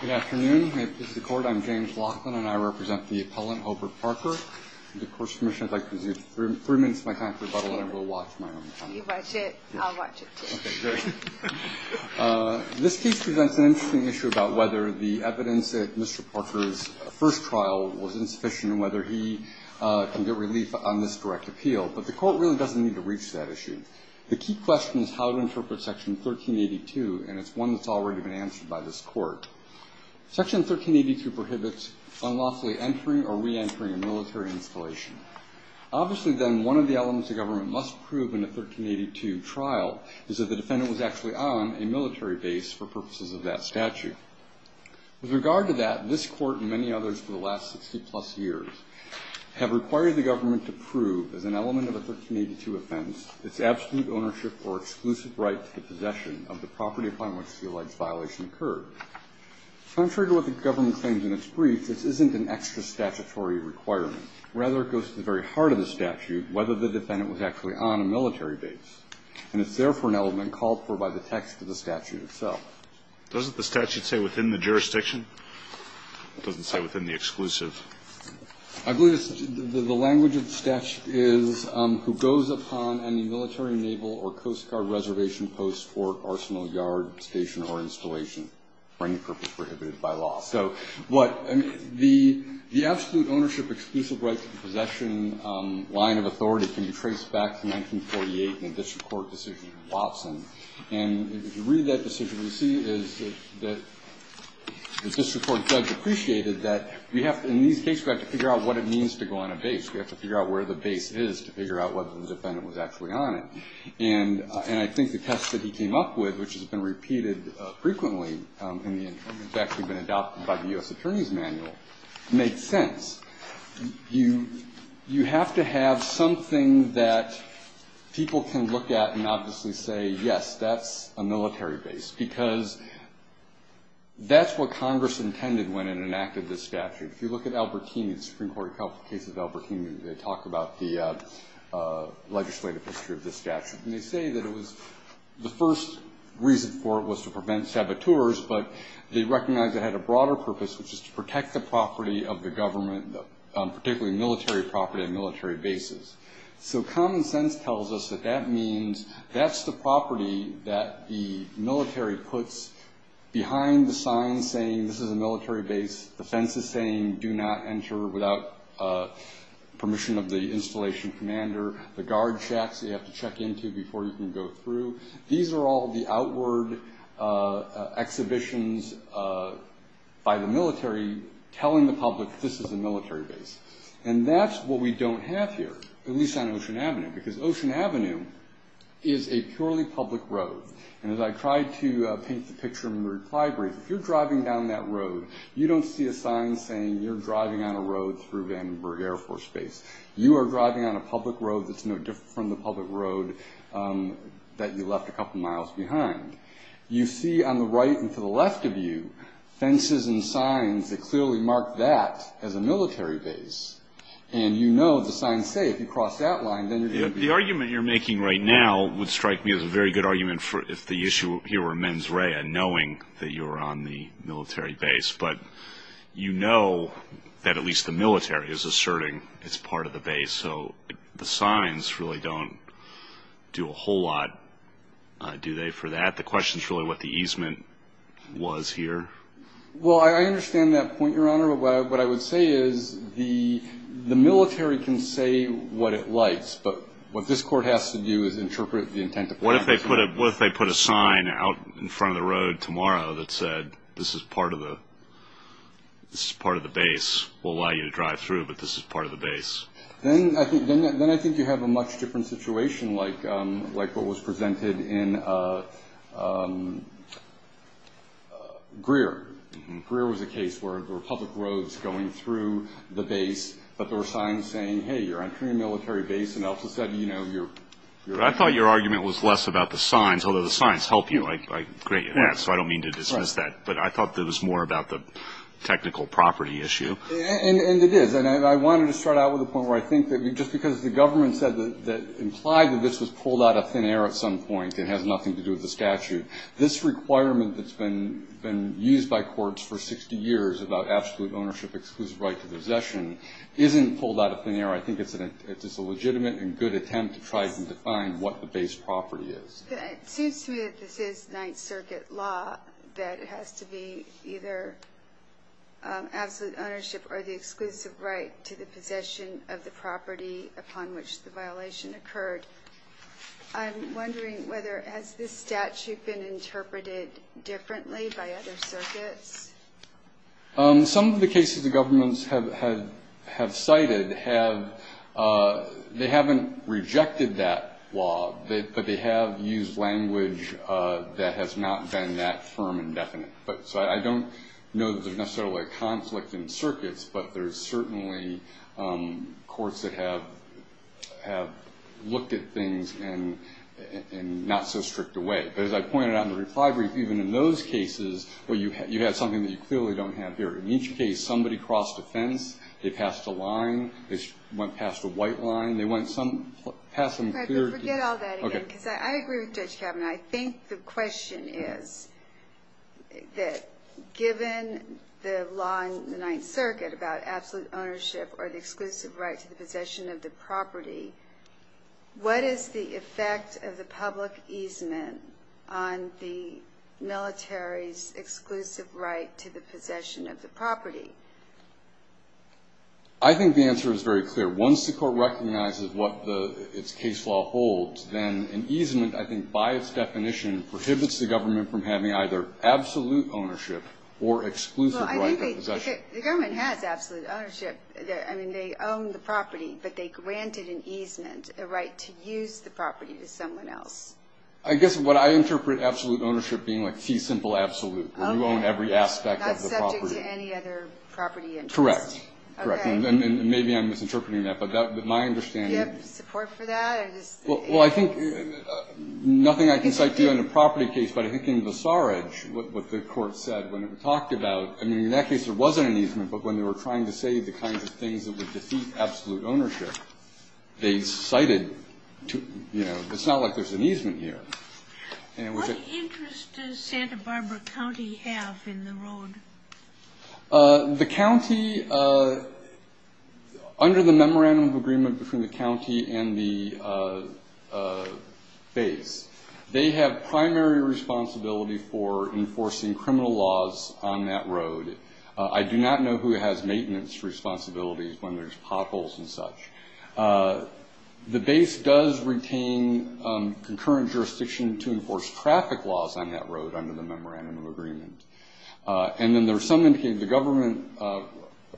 Good afternoon. This is the Court. I'm James Laughlin, and I represent the appellant, Hobert Parker. And, of course, Commissioner, I'd like to give you three minutes of my time to rebuttal, and I will watch my own time. You watch it. I'll watch it, too. Okay, great. This case presents an interesting issue about whether the evidence at Mr. Parker's first trial was insufficient and whether he can get relief on this direct appeal, but the Court really doesn't need to reach that issue. The key question is how to interpret Section 1382, and it's one that's already been answered by this Court. Section 1382 prohibits unlawfully entering or reentering a military installation. Obviously, then, one of the elements the government must prove in a 1382 trial is that the defendant was actually on a military base for purposes of that statute. With regard to that, this Court and many others for the last 60-plus years have required the government to prove as an element of a 1382 offense its absolute ownership or exclusive right to the possession of the property upon which the alleged violation occurred. Contrary to what the government claims in its brief, this isn't an extra statutory requirement. Rather, it goes to the very heart of the statute whether the defendant was actually on a military base. And it's therefore an element called for by the text of the statute itself. Doesn't the statute say within the jurisdiction? It doesn't say within the exclusive. I believe the language of the statute is who goes upon any military, naval, or Coast Guard reservation post, port, arsenal, yard, station, or installation for any purpose prohibited by law. So what the absolute ownership exclusive right to the possession line of authority And if you read that decision, you see that the district court judge appreciated that we have to, in these cases, we have to figure out what it means to go on a base. We have to figure out where the base is to figure out whether the defendant was actually on it. And I think the test that he came up with, which has been repeated frequently and has actually been adopted by the U.S. Attorney's Manual, makes sense. You have to have something that people can look at and obviously say, yes, that's a military base. Because that's what Congress intended when it enacted this statute. If you look at Albertini, the Supreme Court case of Albertini, they talk about the legislative history of this statute. And they say that it was, the first reason for it was to prevent saboteurs, but they recognized it had a broader purpose, which is to protect the property of the government, particularly military property and military bases. So common sense tells us that that means that's the property that the military puts behind the sign saying, this is a military base. The fence is saying, do not enter without permission of the installation commander. The guard shacks you have to check into before you can go through. These are all the outward exhibitions by the military telling the public, this is a military base. And that's what we don't have here, at least on Ocean Avenue. Because Ocean Avenue is a purely public road. And as I tried to paint the picture in the reply brief, if you're driving down that road, you don't see a sign saying you're driving on a road through Vandenberg Air Force Base. You are driving on a public road that's no different from the public road that you left a couple miles behind. You see on the right and to the left of you, fences and signs that clearly mark that as a military base. And you know the signs say if you cross that line, then you're going to be- The argument you're making right now would strike me as a very good argument if the issue here were mens rea, knowing that you're on the military base. But you know that at least the military is asserting it's part of the base. So the signs really don't do a whole lot, do they, for that? The question is really what the easement was here. Well, I understand that point, Your Honor. But what I would say is the military can say what it likes. But what this court has to do is interpret the intent of- What if they put a sign out in front of the road tomorrow that said, this is part of the base. Then I think you have a much different situation like what was presented in Greer. Greer was a case where there were public roads going through the base, but there were signs saying, hey, you're entering a military base, and they also said, you know, you're- I thought your argument was less about the signs, although the signs help you, so I don't mean to dismiss that. But I thought it was more about the technical property issue. And it is. And I wanted to start out with a point where I think that just because the government said that implied that this was pulled out of thin air at some point and has nothing to do with the statute, this requirement that's been used by courts for 60 years about absolute ownership, exclusive right to possession, isn't pulled out of thin air. I think it's a legitimate and good attempt to try to define what the base property is. It seems to me that this is Ninth Circuit law, that it has to be either absolute ownership or the exclusive right to the possession of the property upon which the violation occurred. I'm wondering whether-has this statute been interpreted differently by other circuits? Some of the cases the governments have cited have-they haven't rejected that law, but they have used language that has not been that firm and definite. So I don't know that there's necessarily a conflict in circuits, but there's certainly courts that have looked at things and not so stripped away. But as I pointed out in the reply brief, even in those cases where you have something that you clearly don't have here, in each case somebody crossed a fence, they passed a line, they went past a white line, they went some-passed some clear- Forget all that again, because I agree with Judge Kavanaugh. I think the question is that given the law in the Ninth Circuit about absolute ownership or the exclusive right to the possession of the property, what is the effect of the public easement on the military's exclusive right to the possession of the property? I think the answer is very clear. Once the court recognizes what its case law holds, then an easement I think by its definition prohibits the government from having either absolute ownership or exclusive right to possession. Well, I think they-the government has absolute ownership. I mean, they own the property, but they granted an easement, a right to use the property to someone else. I guess what I interpret absolute ownership being like fee simple absolute, where you own every aspect of the property. Okay. Not subject to any other property interest. Correct. Okay. And maybe I'm misinterpreting that, but my understanding- Do you have support for that, or just- Well, I think nothing I can cite to you on a property case, but I think in the Saw Ridge what the court said when it was talked about, I mean, in that case there wasn't an easement, but when they were trying to say the kinds of things that would defeat absolute ownership, they cited, you know, it's not like there's an easement here. What interest does Santa Barbara County have in the road? The county under the memorandum of agreement between the county and the base, they have primary responsibility for enforcing criminal laws on that road. I do not know who has maintenance responsibilities when there's potholes and such. The base does retain concurrent jurisdiction to enforce traffic laws on that road under the memorandum of agreement. And then there's some indication, the government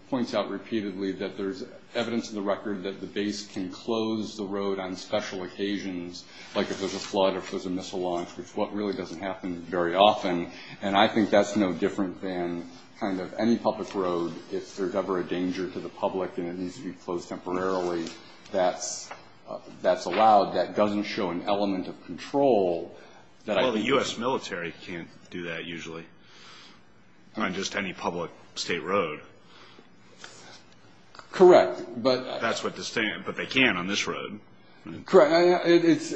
points out repeatedly that there's evidence in the record that the base can close the road on special occasions, like if there's a flood or if there's a missile launch, which really doesn't happen very often, and I think that's no different than kind of any public road. If there's ever a danger to the public and it needs to be closed temporarily, that's allowed. That doesn't show an element of control. Well, the U.S. military can't do that usually on just any public state road. Correct. That's what they're saying, but they can on this road. Correct.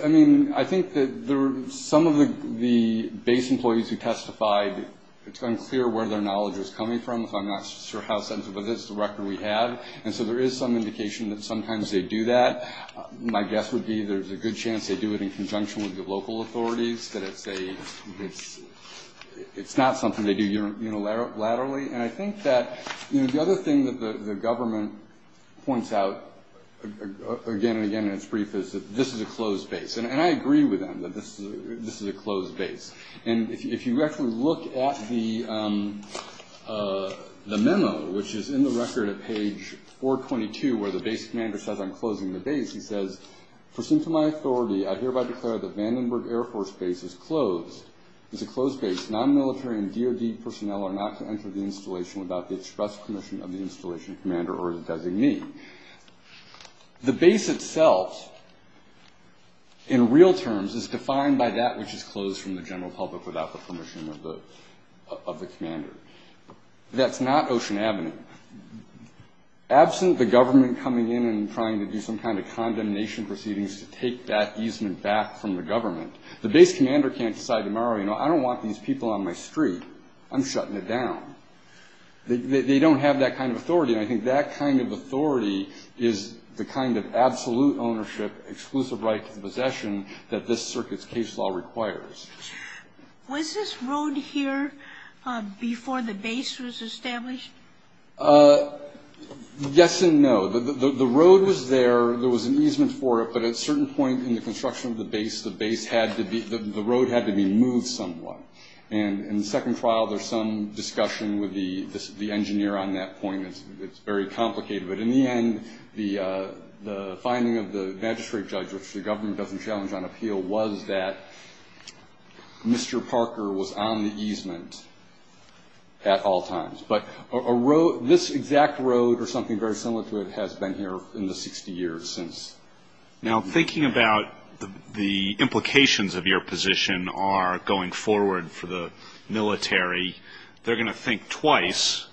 I mean, I think that some of the base employees who testified, it's unclear where their knowledge is coming from, so I'm not sure how sensitive it is to the record we have, and so there is some indication that sometimes they do that. My guess would be there's a good chance they do it in conjunction with the local authorities, that it's not something they do unilaterally, and I think that the other thing that the government points out again and again in its brief is that this is a closed base, and I agree with them that this is a closed base. And if you actually look at the memo, which is in the record at page 422 where the base commander says, I'm closing the base, he says, Pursuant to my authority, I hereby declare that Vandenberg Air Force Base is closed. It's a closed base. Non-military and DOD personnel are not to enter the installation without the express permission of the installation commander or the designee. The base itself, in real terms, is defined by that which is closed from the general public without the permission of the commander. That's not Ocean Avenue. Absent the government coming in and trying to do some kind of condemnation proceedings to take that easement back from the government, the base commander can't decide tomorrow, you know, I don't want these people on my street. I'm shutting it down. They don't have that kind of authority, and I think that kind of authority is the kind of absolute ownership, exclusive right to the possession that this circuit's case law requires. Was this road here before the base was established? Yes and no. The road was there. There was an easement for it, but at a certain point in the construction of the base, the road had to be moved somewhat. And in the second trial, there's some discussion with the engineer on that point. It's very complicated. But in the end, the finding of the magistrate judge, which the government doesn't challenge on appeal, was that Mr. Parker was on the easement at all times. But this exact road or something very similar to it has been here in the 60 years since. Now, thinking about the implications of your position are going forward for the military, they're going to think twice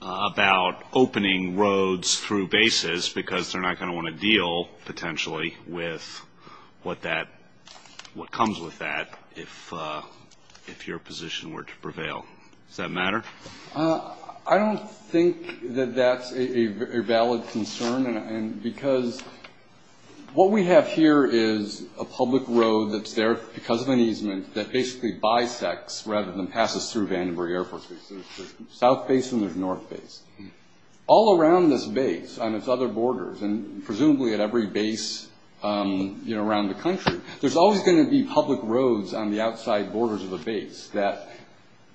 about opening roads through bases just because they're not going to want to deal potentially with what comes with that if your position were to prevail. Does that matter? I don't think that that's a valid concern, because what we have here is a public road that's there because of an easement that basically bisects rather than passes through Vandenberg Air Force Base. There's a south base and there's a north base. All around this base on its other borders, and presumably at every base around the country, there's always going to be public roads on the outside borders of the base that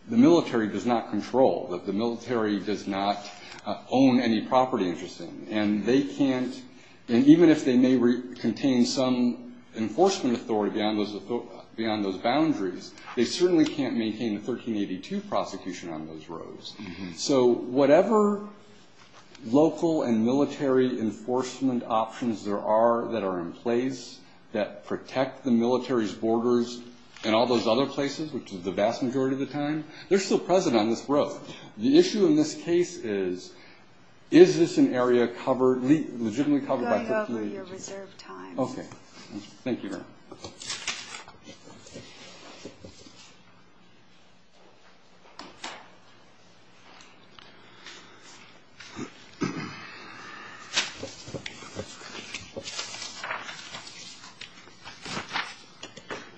the military does not control, that the military does not own any property interest in. And even if they may contain some enforcement authority beyond those boundaries, they certainly can't maintain a 1382 prosecution on those roads. So whatever local and military enforcement options there are that are in place that protect the military's borders and all those other places, which is the vast majority of the time, they're still present on this road. The issue in this case is, is this an area covered, legitimately covered by the police? Okay. Thank you, Your Honor.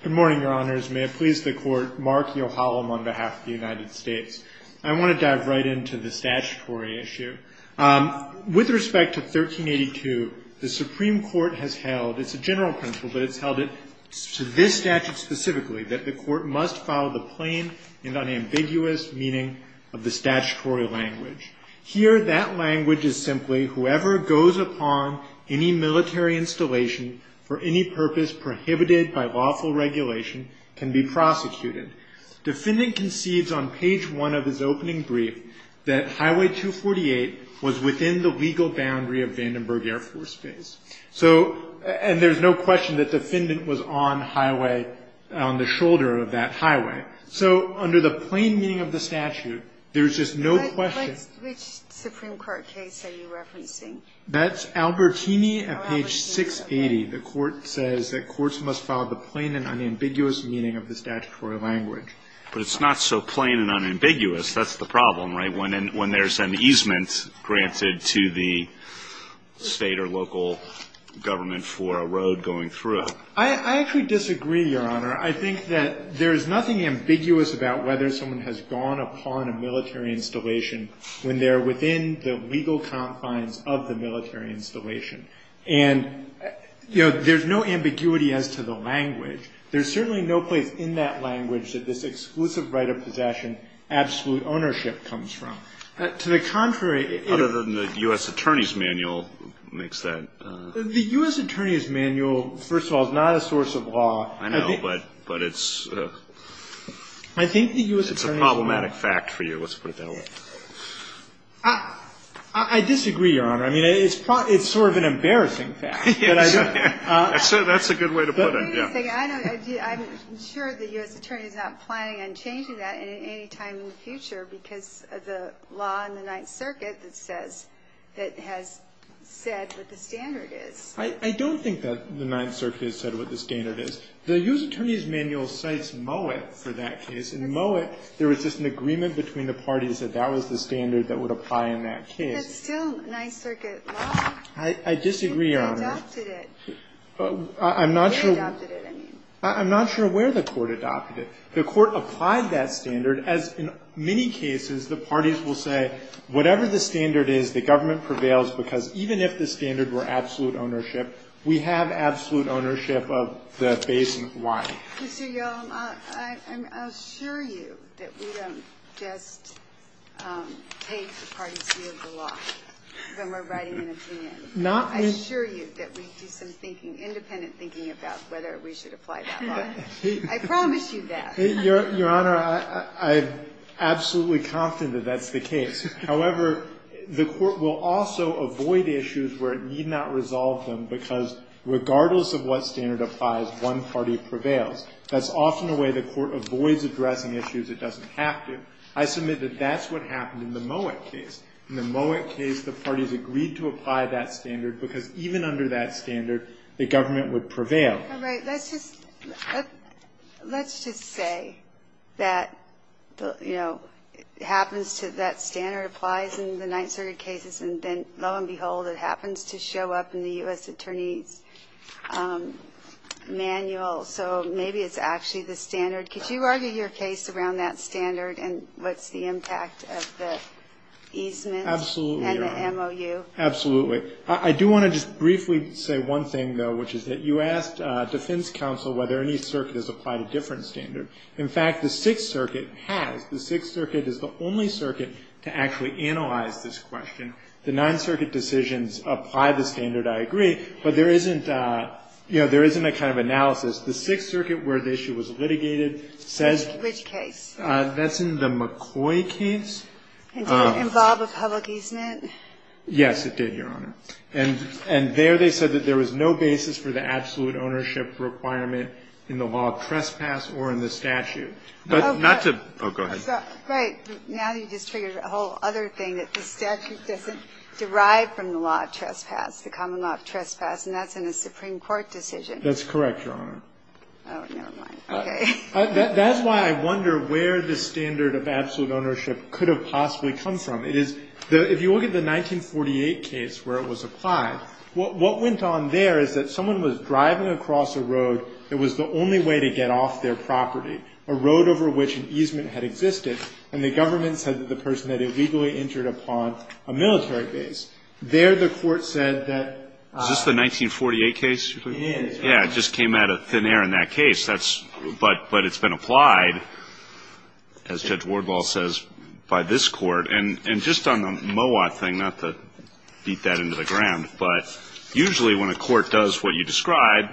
Good morning, Your Honors. May it please the Court, Mark Yohalam on behalf of the United States. I want to dive right into the statutory issue. With respect to 1382, the Supreme Court has held, it's a general principle, but it's held to this statute specifically, that the court must follow the plain and unambiguous meaning of the statutory language. Here, that language is simply, whoever goes upon any military installation for any purpose prohibited by lawful regulation can be prosecuted. Defendant concedes on page 1 of his opening brief that Highway 248 was within the legal boundary of Vandenberg Air Force Base. So, and there's no question that defendant was on highway, on the shoulder of that highway. So under the plain meaning of the statute, there's just no question. Which Supreme Court case are you referencing? That's Albertini at page 680. The court says that courts must follow the plain and unambiguous meaning of the statutory language. But it's not so plain and unambiguous. That's the problem, right? When there's an easement granted to the state or local government for a road going through it. I actually disagree, Your Honor. I think that there's nothing ambiguous about whether someone has gone upon a military installation when they're within the legal confines of the military installation. And, you know, there's no ambiguity as to the language. There's certainly no place in that language that this exclusive right of possession absolute ownership comes from. To the contrary, it. Other than the U.S. Attorney's Manual makes that. The U.S. Attorney's Manual, first of all, is not a source of law. I know, but it's. I think the U.S. Attorney's Manual. It's a problematic fact for you, let's put it that way. I disagree, Your Honor. I mean, it's sort of an embarrassing fact. That's a good way to put it. Wait a second. I'm sure the U.S. Attorney's not planning on changing that at any time in the future because of the law in the Ninth Circuit that says, that has said what the standard is. I don't think that the Ninth Circuit has said what the standard is. The U.S. Attorney's Manual cites Mowat for that case. In Mowat, there was just an agreement between the parties that that was the standard that would apply in that case. That's still Ninth Circuit law. I disagree, Your Honor. They adopted it. I'm not sure. They adopted it, I mean. I'm not sure where the Court adopted it. The Court applied that standard, as in many cases the parties will say, whatever the standard is, the government prevails because even if the standard were absolute ownership, we have absolute ownership of the base in Hawaii. Ginsburg-McGill. I assure you that we don't just take the parties' view of the law when we're writing an opinion. I assure you that we do some independent thinking about whether we should apply that law. I promise you that. Your Honor, I'm absolutely confident that that's the case. However, the Court will also avoid issues where it need not resolve them because regardless of what standard applies, one party prevails. That's often a way the Court avoids addressing issues it doesn't have to. I submit that that's what happened in the Mowat case. In the Mowat case, the parties agreed to apply that standard because even under that standard, the government would prevail. All right. Let's just say that, you know, it happens to that standard applies in the Ninth Circuit manual. So maybe it's actually the standard. Could you argue your case around that standard and what's the impact of the easements and the MOU? Absolutely, Your Honor. Absolutely. I do want to just briefly say one thing, though, which is that you asked defense counsel whether any circuit has applied a different standard. In fact, the Sixth Circuit has. The Sixth Circuit is the only circuit to actually analyze this question. The Ninth Circuit decisions apply the standard, I agree. But there isn't, you know, there isn't a kind of analysis. The Sixth Circuit where the issue was litigated says. Which case? That's in the McCoy case. And did it involve a public easement? Yes, it did, Your Honor. And there they said that there was no basis for the absolute ownership requirement in the law of trespass or in the statute. But not to. Oh, go ahead. Right. Now you just figured a whole other thing, that the statute doesn't derive from the law of trespass, the common law of trespass, and that's in a Supreme Court decision. That's correct, Your Honor. Oh, never mind. Okay. That's why I wonder where the standard of absolute ownership could have possibly come from. It is, if you look at the 1948 case where it was applied, what went on there is that someone was driving across a road that was the only way to get off their property, a road over which an easement had existed, and the government said that the person had illegally entered upon a military base. There the Court said that ---- Is this the 1948 case? It is. Yeah. It just came out of thin air in that case. That's ---- But it's been applied, as Judge Wardlaw says, by this Court. And just on the MOA thing, not to beat that into the ground, but usually when a court does what you describe,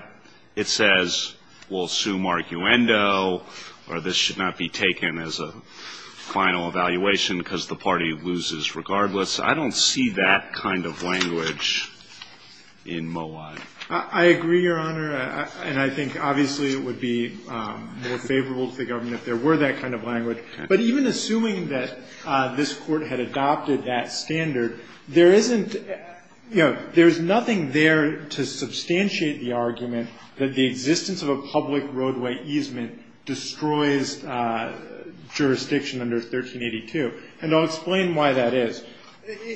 it says, well, sue Mark Uendo, or this should not be taken as a final evaluation because the party loses regardless. I don't see that kind of language in MOA. I agree, Your Honor, and I think obviously it would be more favorable to the government if there were that kind of language. But even assuming that this Court had adopted that standard, there isn't, you know, there's nothing there to substantiate the argument that the existence of a public roadway easement destroys jurisdiction under 1382. And I'll explain why that is.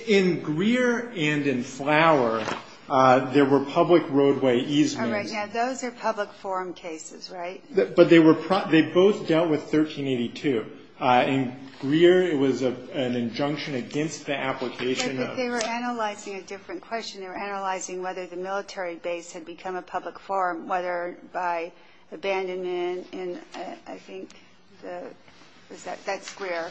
In Greer and in Flower, there were public roadway easements. All right. Now, those are public forum cases, right? But they were ---- they both dealt with 1382. In Greer, it was an injunction against the application of ---- But they were analyzing a different question. They were analyzing whether the military base had become a public forum, whether by abandonment in, I think, the ---- that's Greer.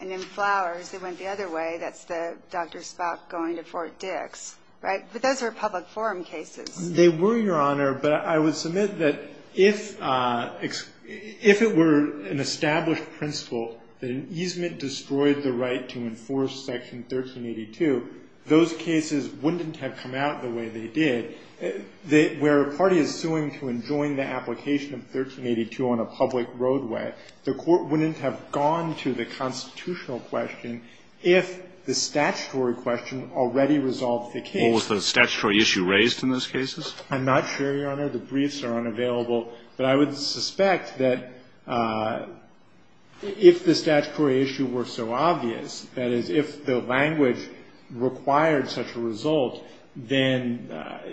And in Flowers, it went the other way. That's Dr. Spock going to Fort Dix, right? But those were public forum cases. They were, Your Honor. But I would submit that if it were an established principle that an easement destroyed the right to enforce Section 1382, those cases wouldn't have come out the way they did. Where a party is suing to enjoin the application of 1382 on a public roadway, the court wouldn't have gone to the constitutional question if the statutory question already resolved the case. What was the statutory issue raised in those cases? I'm not sure, Your Honor. The briefs are unavailable. But I would suspect that if the statutory issue were so obvious, that is, if the language required such a result, then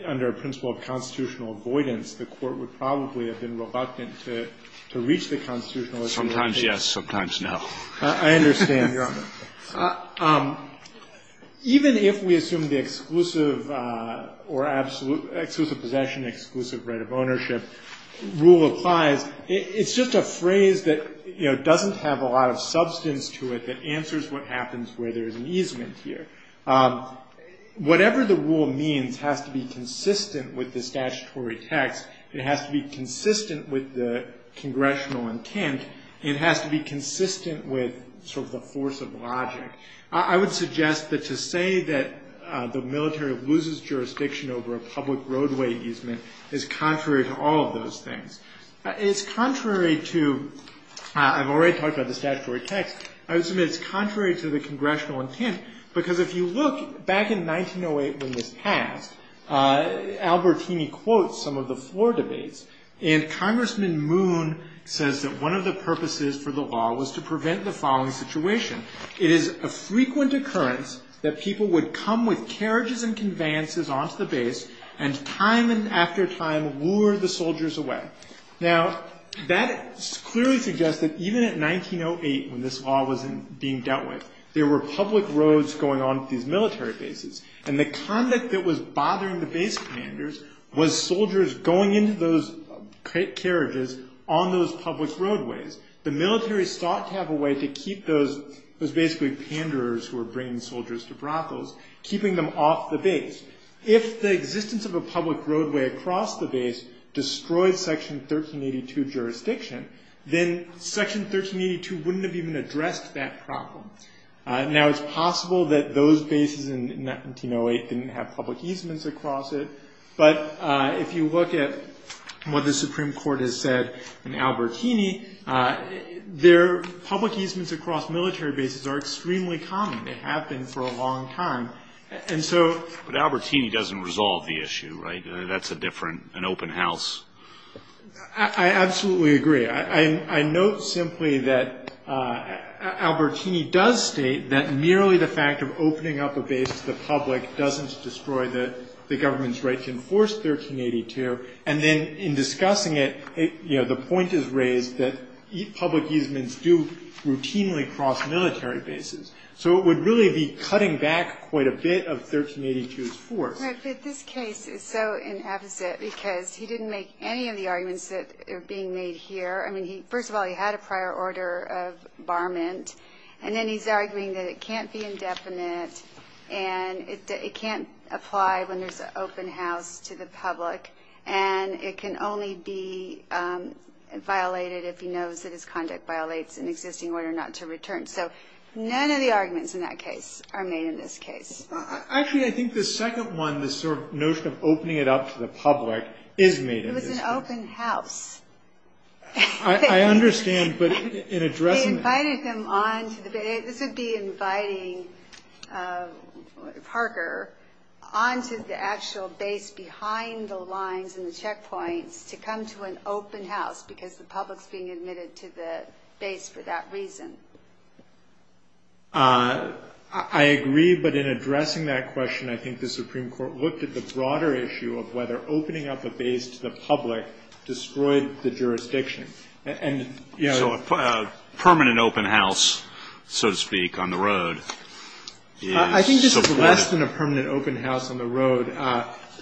under a principle of constitutional avoidance, the court would probably have been reluctant to reach the constitutional issue of the case. Scalia. Sometimes yes, sometimes no. Fisher. I understand, Your Honor. Even if we assume the exclusive or absolute ---- exclusive possession, exclusive right of ownership rule applies, it's just a phrase that, you know, doesn't have a lot of substance to it that answers what happens where there is an easement here. Whatever the rule means has to be consistent with the statutory text. It has to be consistent with the congressional intent. It has to be consistent with sort of the force of logic. I would suggest that to say that the military loses jurisdiction over a public roadway easement is contrary to all of those things. It's contrary to ---- I've already talked about the statutory text. I would submit it's contrary to the congressional intent because if you look back in 1908 when this passed, Albertini quotes some of the floor debates, and Congressman Moon says that one of the purposes for the law was to prevent the following situation. It is a frequent occurrence that people would come with carriages and conveyances onto the base and time and after time lure the soldiers away. Now, that clearly suggests that even in 1908 when this law was being dealt with, there were public roads going onto these military bases. And the conduct that was bothering the base commanders was soldiers going into those carriages on those public roadways. The military sought to have a way to keep those basically panderers who were bringing soldiers to brothels, keeping them off the base. If the existence of a public roadway across the base destroyed Section 1382 jurisdiction, then Section 1382 wouldn't have even addressed that problem. Now, it's possible that those bases in 1908 didn't have public easements across it. But if you look at what the Supreme Court has said in Albertini, their public easements across military bases are extremely common. They have been for a long time. And so But Albertini doesn't resolve the issue, right? That's a different, an open house. I absolutely agree. I note simply that Albertini does state that merely the fact of opening up a base to the public doesn't destroy the government's right to enforce 1382. And then in discussing it, you know, the point is raised that public easements do routinely cross military bases. So it would really be cutting back quite a bit of 1382's force. But this case is so inefficient because he didn't make any of the arguments that are being made here. I mean, first of all, he had a prior order of barment. And then he's arguing that it can't be indefinite and it can't apply when there's an open house to the public. And it can only be violated if he knows that his conduct violates an existing order not to return. So none of the arguments in that case are made in this case. Actually, I think the second one, the sort of notion of opening it up to the public is made in this case. It was an open house. I understand. But in addressing it. They invited them on to the base. This would be inviting Parker on to the actual base behind the lines and the checkpoints to come to an open house because the public's being admitted to the base for that reason. I agree. But in addressing that question, I think the Supreme Court looked at the broader issue of whether opening up a base to the public destroyed the jurisdiction. So a permanent open house, so to speak, on the road. I think this is less than a permanent open house on the road.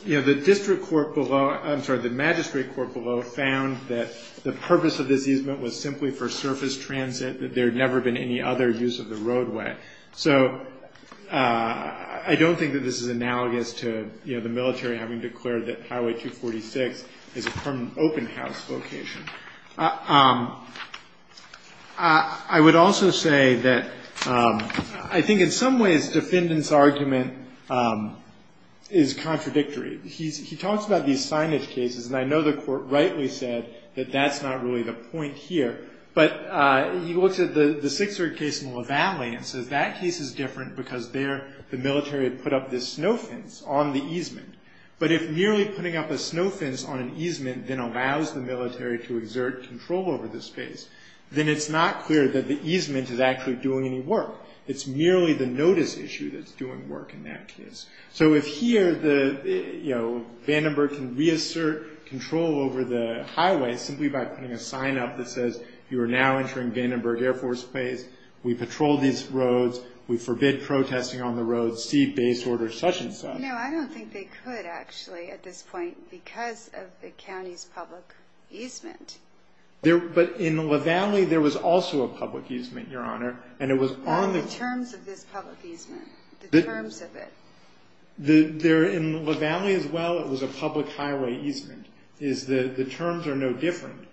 The district court below, I'm sorry, the magistrate court below found that the purpose of this easement was simply for surface transit, that there had never been any other use of the roadway. So I don't think that this is analogous to the military having declared that Highway 246 is a permanent open house location. I would also say that I think in some ways defendant's argument is contradictory. He talks about these signage cases, and I know the court rightly said that that's not really the point here. But he looks at the Sixer case in La Valle and says that case is different because there the military had put up this snow fence on the easement. But if merely putting up a snow fence on an easement then allows the military to exert control over the space, then it's not clear that the easement is actually doing any work. It's merely the notice issue that's doing work in that case. So if here Vandenberg can reassert control over the highway simply by putting a sign up that says, you are now entering Vandenberg Air Force Base, we patrol these roads, we forbid protesting on the roads, see base orders, such and such. No, I don't think they could actually at this point because of the county's public easement. But in La Valle there was also a public easement, Your Honor. Not the terms of this public easement, the terms of it. In La Valle as well it was a public highway easement. The terms are no different.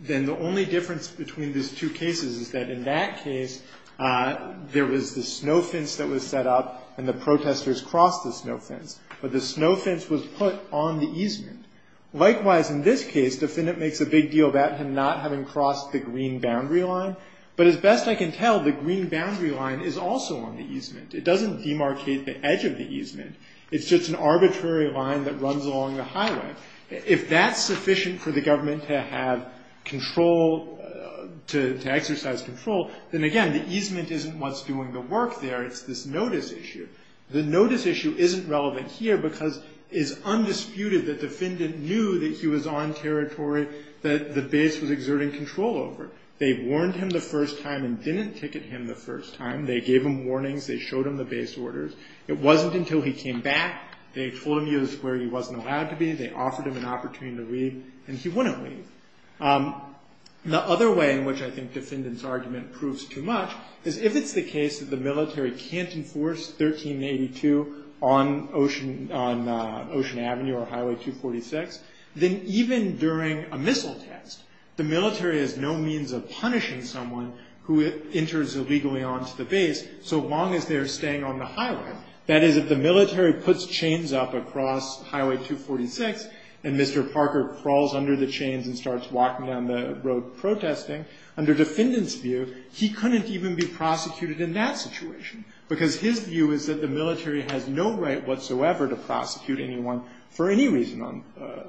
Then the only difference between these two cases is that in that case there was the snow fence that was set up and the protesters crossed the snow fence. But the snow fence was put on the easement. Likewise in this case, the defendant makes a big deal about him not having crossed the green boundary line. But as best I can tell, the green boundary line is also on the easement. It doesn't demarcate the edge of the easement. It's just an arbitrary line that runs along the highway. If that's sufficient for the government to have control, to exercise control, then again the easement isn't what's doing the work there. It's this notice issue. The notice issue isn't relevant here because it's undisputed that the defendant knew that he was on territory that the base was exerting control over. They warned him the first time and didn't ticket him the first time. They gave him warnings. They showed him the base orders. It wasn't until he came back. They told him he was where he wasn't allowed to be. They offered him an opportunity to leave. And he wouldn't leave. The other way in which I think defendant's argument proves too much is if it's the case that the military can't enforce 1382 on Ocean Avenue or Highway 246, then even during a missile test, the military has no means of punishing someone who enters illegally onto the base so long as they're staying on the highway. That is, if the military puts chains up across Highway 246 and Mr. Parker crawls under the chains and starts walking down the road protesting, under defendant's view, he couldn't even be prosecuted in that situation because his view is that the military has no right whatsoever to prosecute anyone for any reason under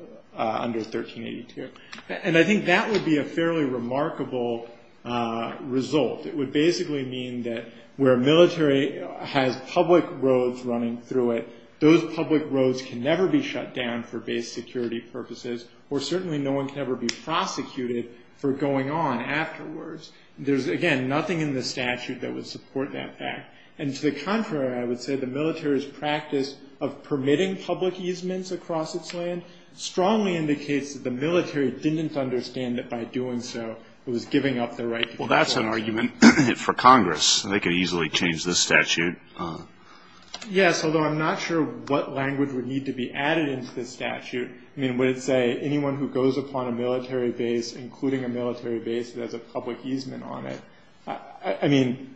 1382. And I think that would be a fairly remarkable result. It would basically mean that where a military has public roads running through it, those public roads can never be shut down for base security purposes or certainly no one can ever be prosecuted for going on afterwards. There's, again, nothing in the statute that would support that fact. And to the contrary, I would say the military's practice of permitting public easements across its land strongly indicates that the military didn't understand that by doing so, it was giving up their right to perform. Well, that's an argument for Congress. They could easily change this statute. Yes, although I'm not sure what language would need to be added into this statute. I mean, would it say anyone who goes upon a military base, including a military base that has a public easement on it? I mean,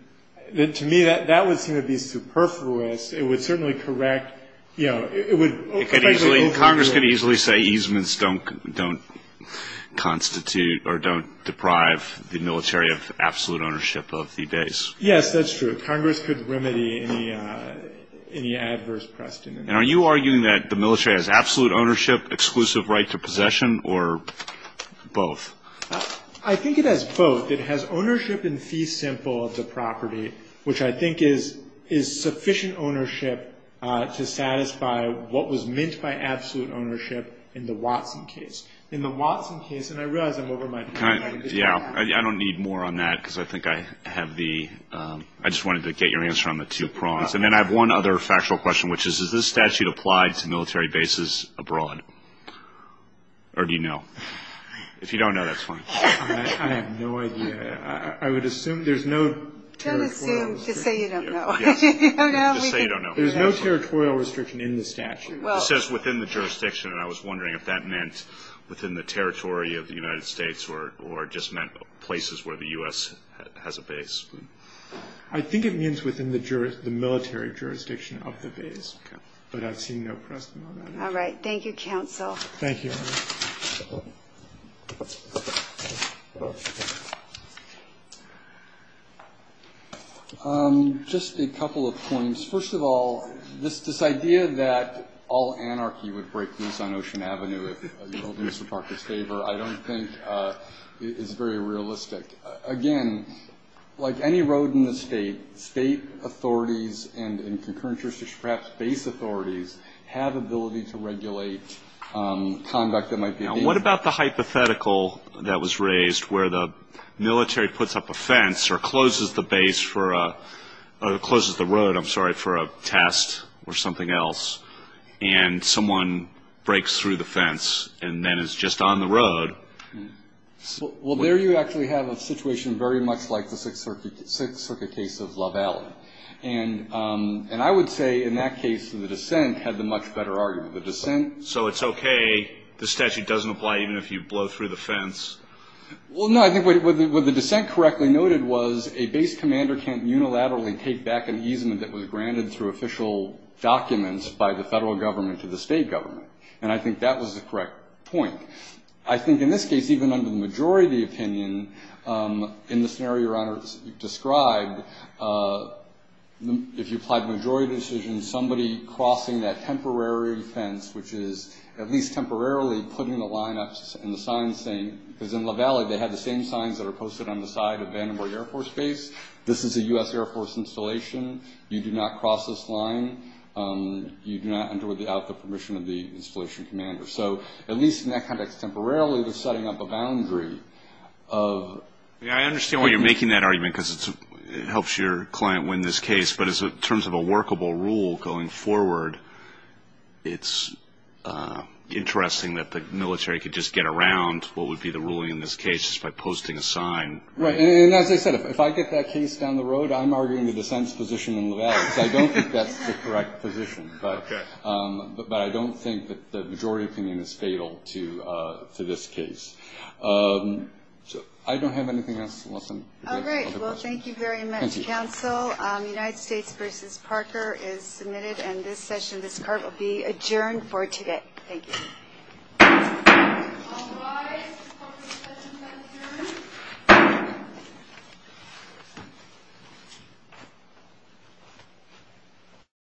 to me, that would seem to be superfluous. It would certainly correct, you know, it would effectively overrule it. Congress could easily say easements don't constitute or don't deprive the military of absolute ownership of the base. Yes, that's true. Congress could remedy any adverse precedent. And are you arguing that the military has absolute ownership, exclusive right to possession, or both? I think it has both. It has ownership in fee simple of the property, which I think is sufficient ownership to satisfy what was meant by absolute ownership in the Watson case. In the Watson case, and I realize I'm over my time. Yeah, I don't need more on that because I think I have the ‑‑ I just wanted to get your answer on the two prongs. And then I have one other factual question, which is, is this statute applied to military bases abroad? Or do you know? If you don't know, that's fine. I have no idea. I would assume there's no territorial ‑‑ Don't assume. Just say you don't know. Just say you don't know. There's no territorial restriction in the statute. It says within the jurisdiction, and I was wondering if that meant within the territory of the United States or just meant places where the U.S. has a base. I think it means within the military jurisdiction of the base. But I've seen no precedent on that. All right. Thank you, counsel. Thank you. Thank you. Just a couple of points. First of all, this idea that all anarchy would break loose on Ocean Avenue if you don't do Mr. Parker's favor I don't think is very realistic. Again, like any road in the state, state authorities and concurrent jurisdictions, perhaps base authorities, have ability to regulate conduct that might be ‑‑ Now, what about the hypothetical that was raised where the military puts up a fence or closes the road, I'm sorry, for a test or something else, and someone breaks through the fence and then is just on the road? Well, there you actually have a situation very much like the Sixth Circuit case of Love Alley. And I would say in that case the dissent had the much better argument. The dissent ‑‑ So it's okay, the statute doesn't apply even if you blow through the fence? Well, no, I think what the dissent correctly noted was a base commander can't unilaterally take back an easement that was granted through official documents by the federal government to the state government. And I think that was the correct point. I think in this case, even under the majority opinion, in the scenario your Honor described, if you applied majority decision, somebody crossing that temporary fence, which is at least temporarily putting the lineups and the signs saying, because in Love Alley they had the same signs that are posted on the side of Vandenberg Air Force Base, this is a U.S. Air Force installation, you do not cross this line, you do not enter without the permission of the installation commander. So at least in that context, temporarily setting up a boundary of ‑‑ I understand why you're making that argument because it helps your client win this case, but in terms of a workable rule going forward, it's interesting that the military could just get around what would be the ruling in this case just by posting a sign. Right, and as I said, if I get that case down the road, I'm arguing the dissent's position in Love Alley. I don't think that's the correct position. But I don't think that the majority opinion is fatal to this case. I don't have anything else. All right, well, thank you very much, counsel. United States v. Parker is submitted, and this session, this court will be adjourned for today. Thank you. All rise for the session to adjourn.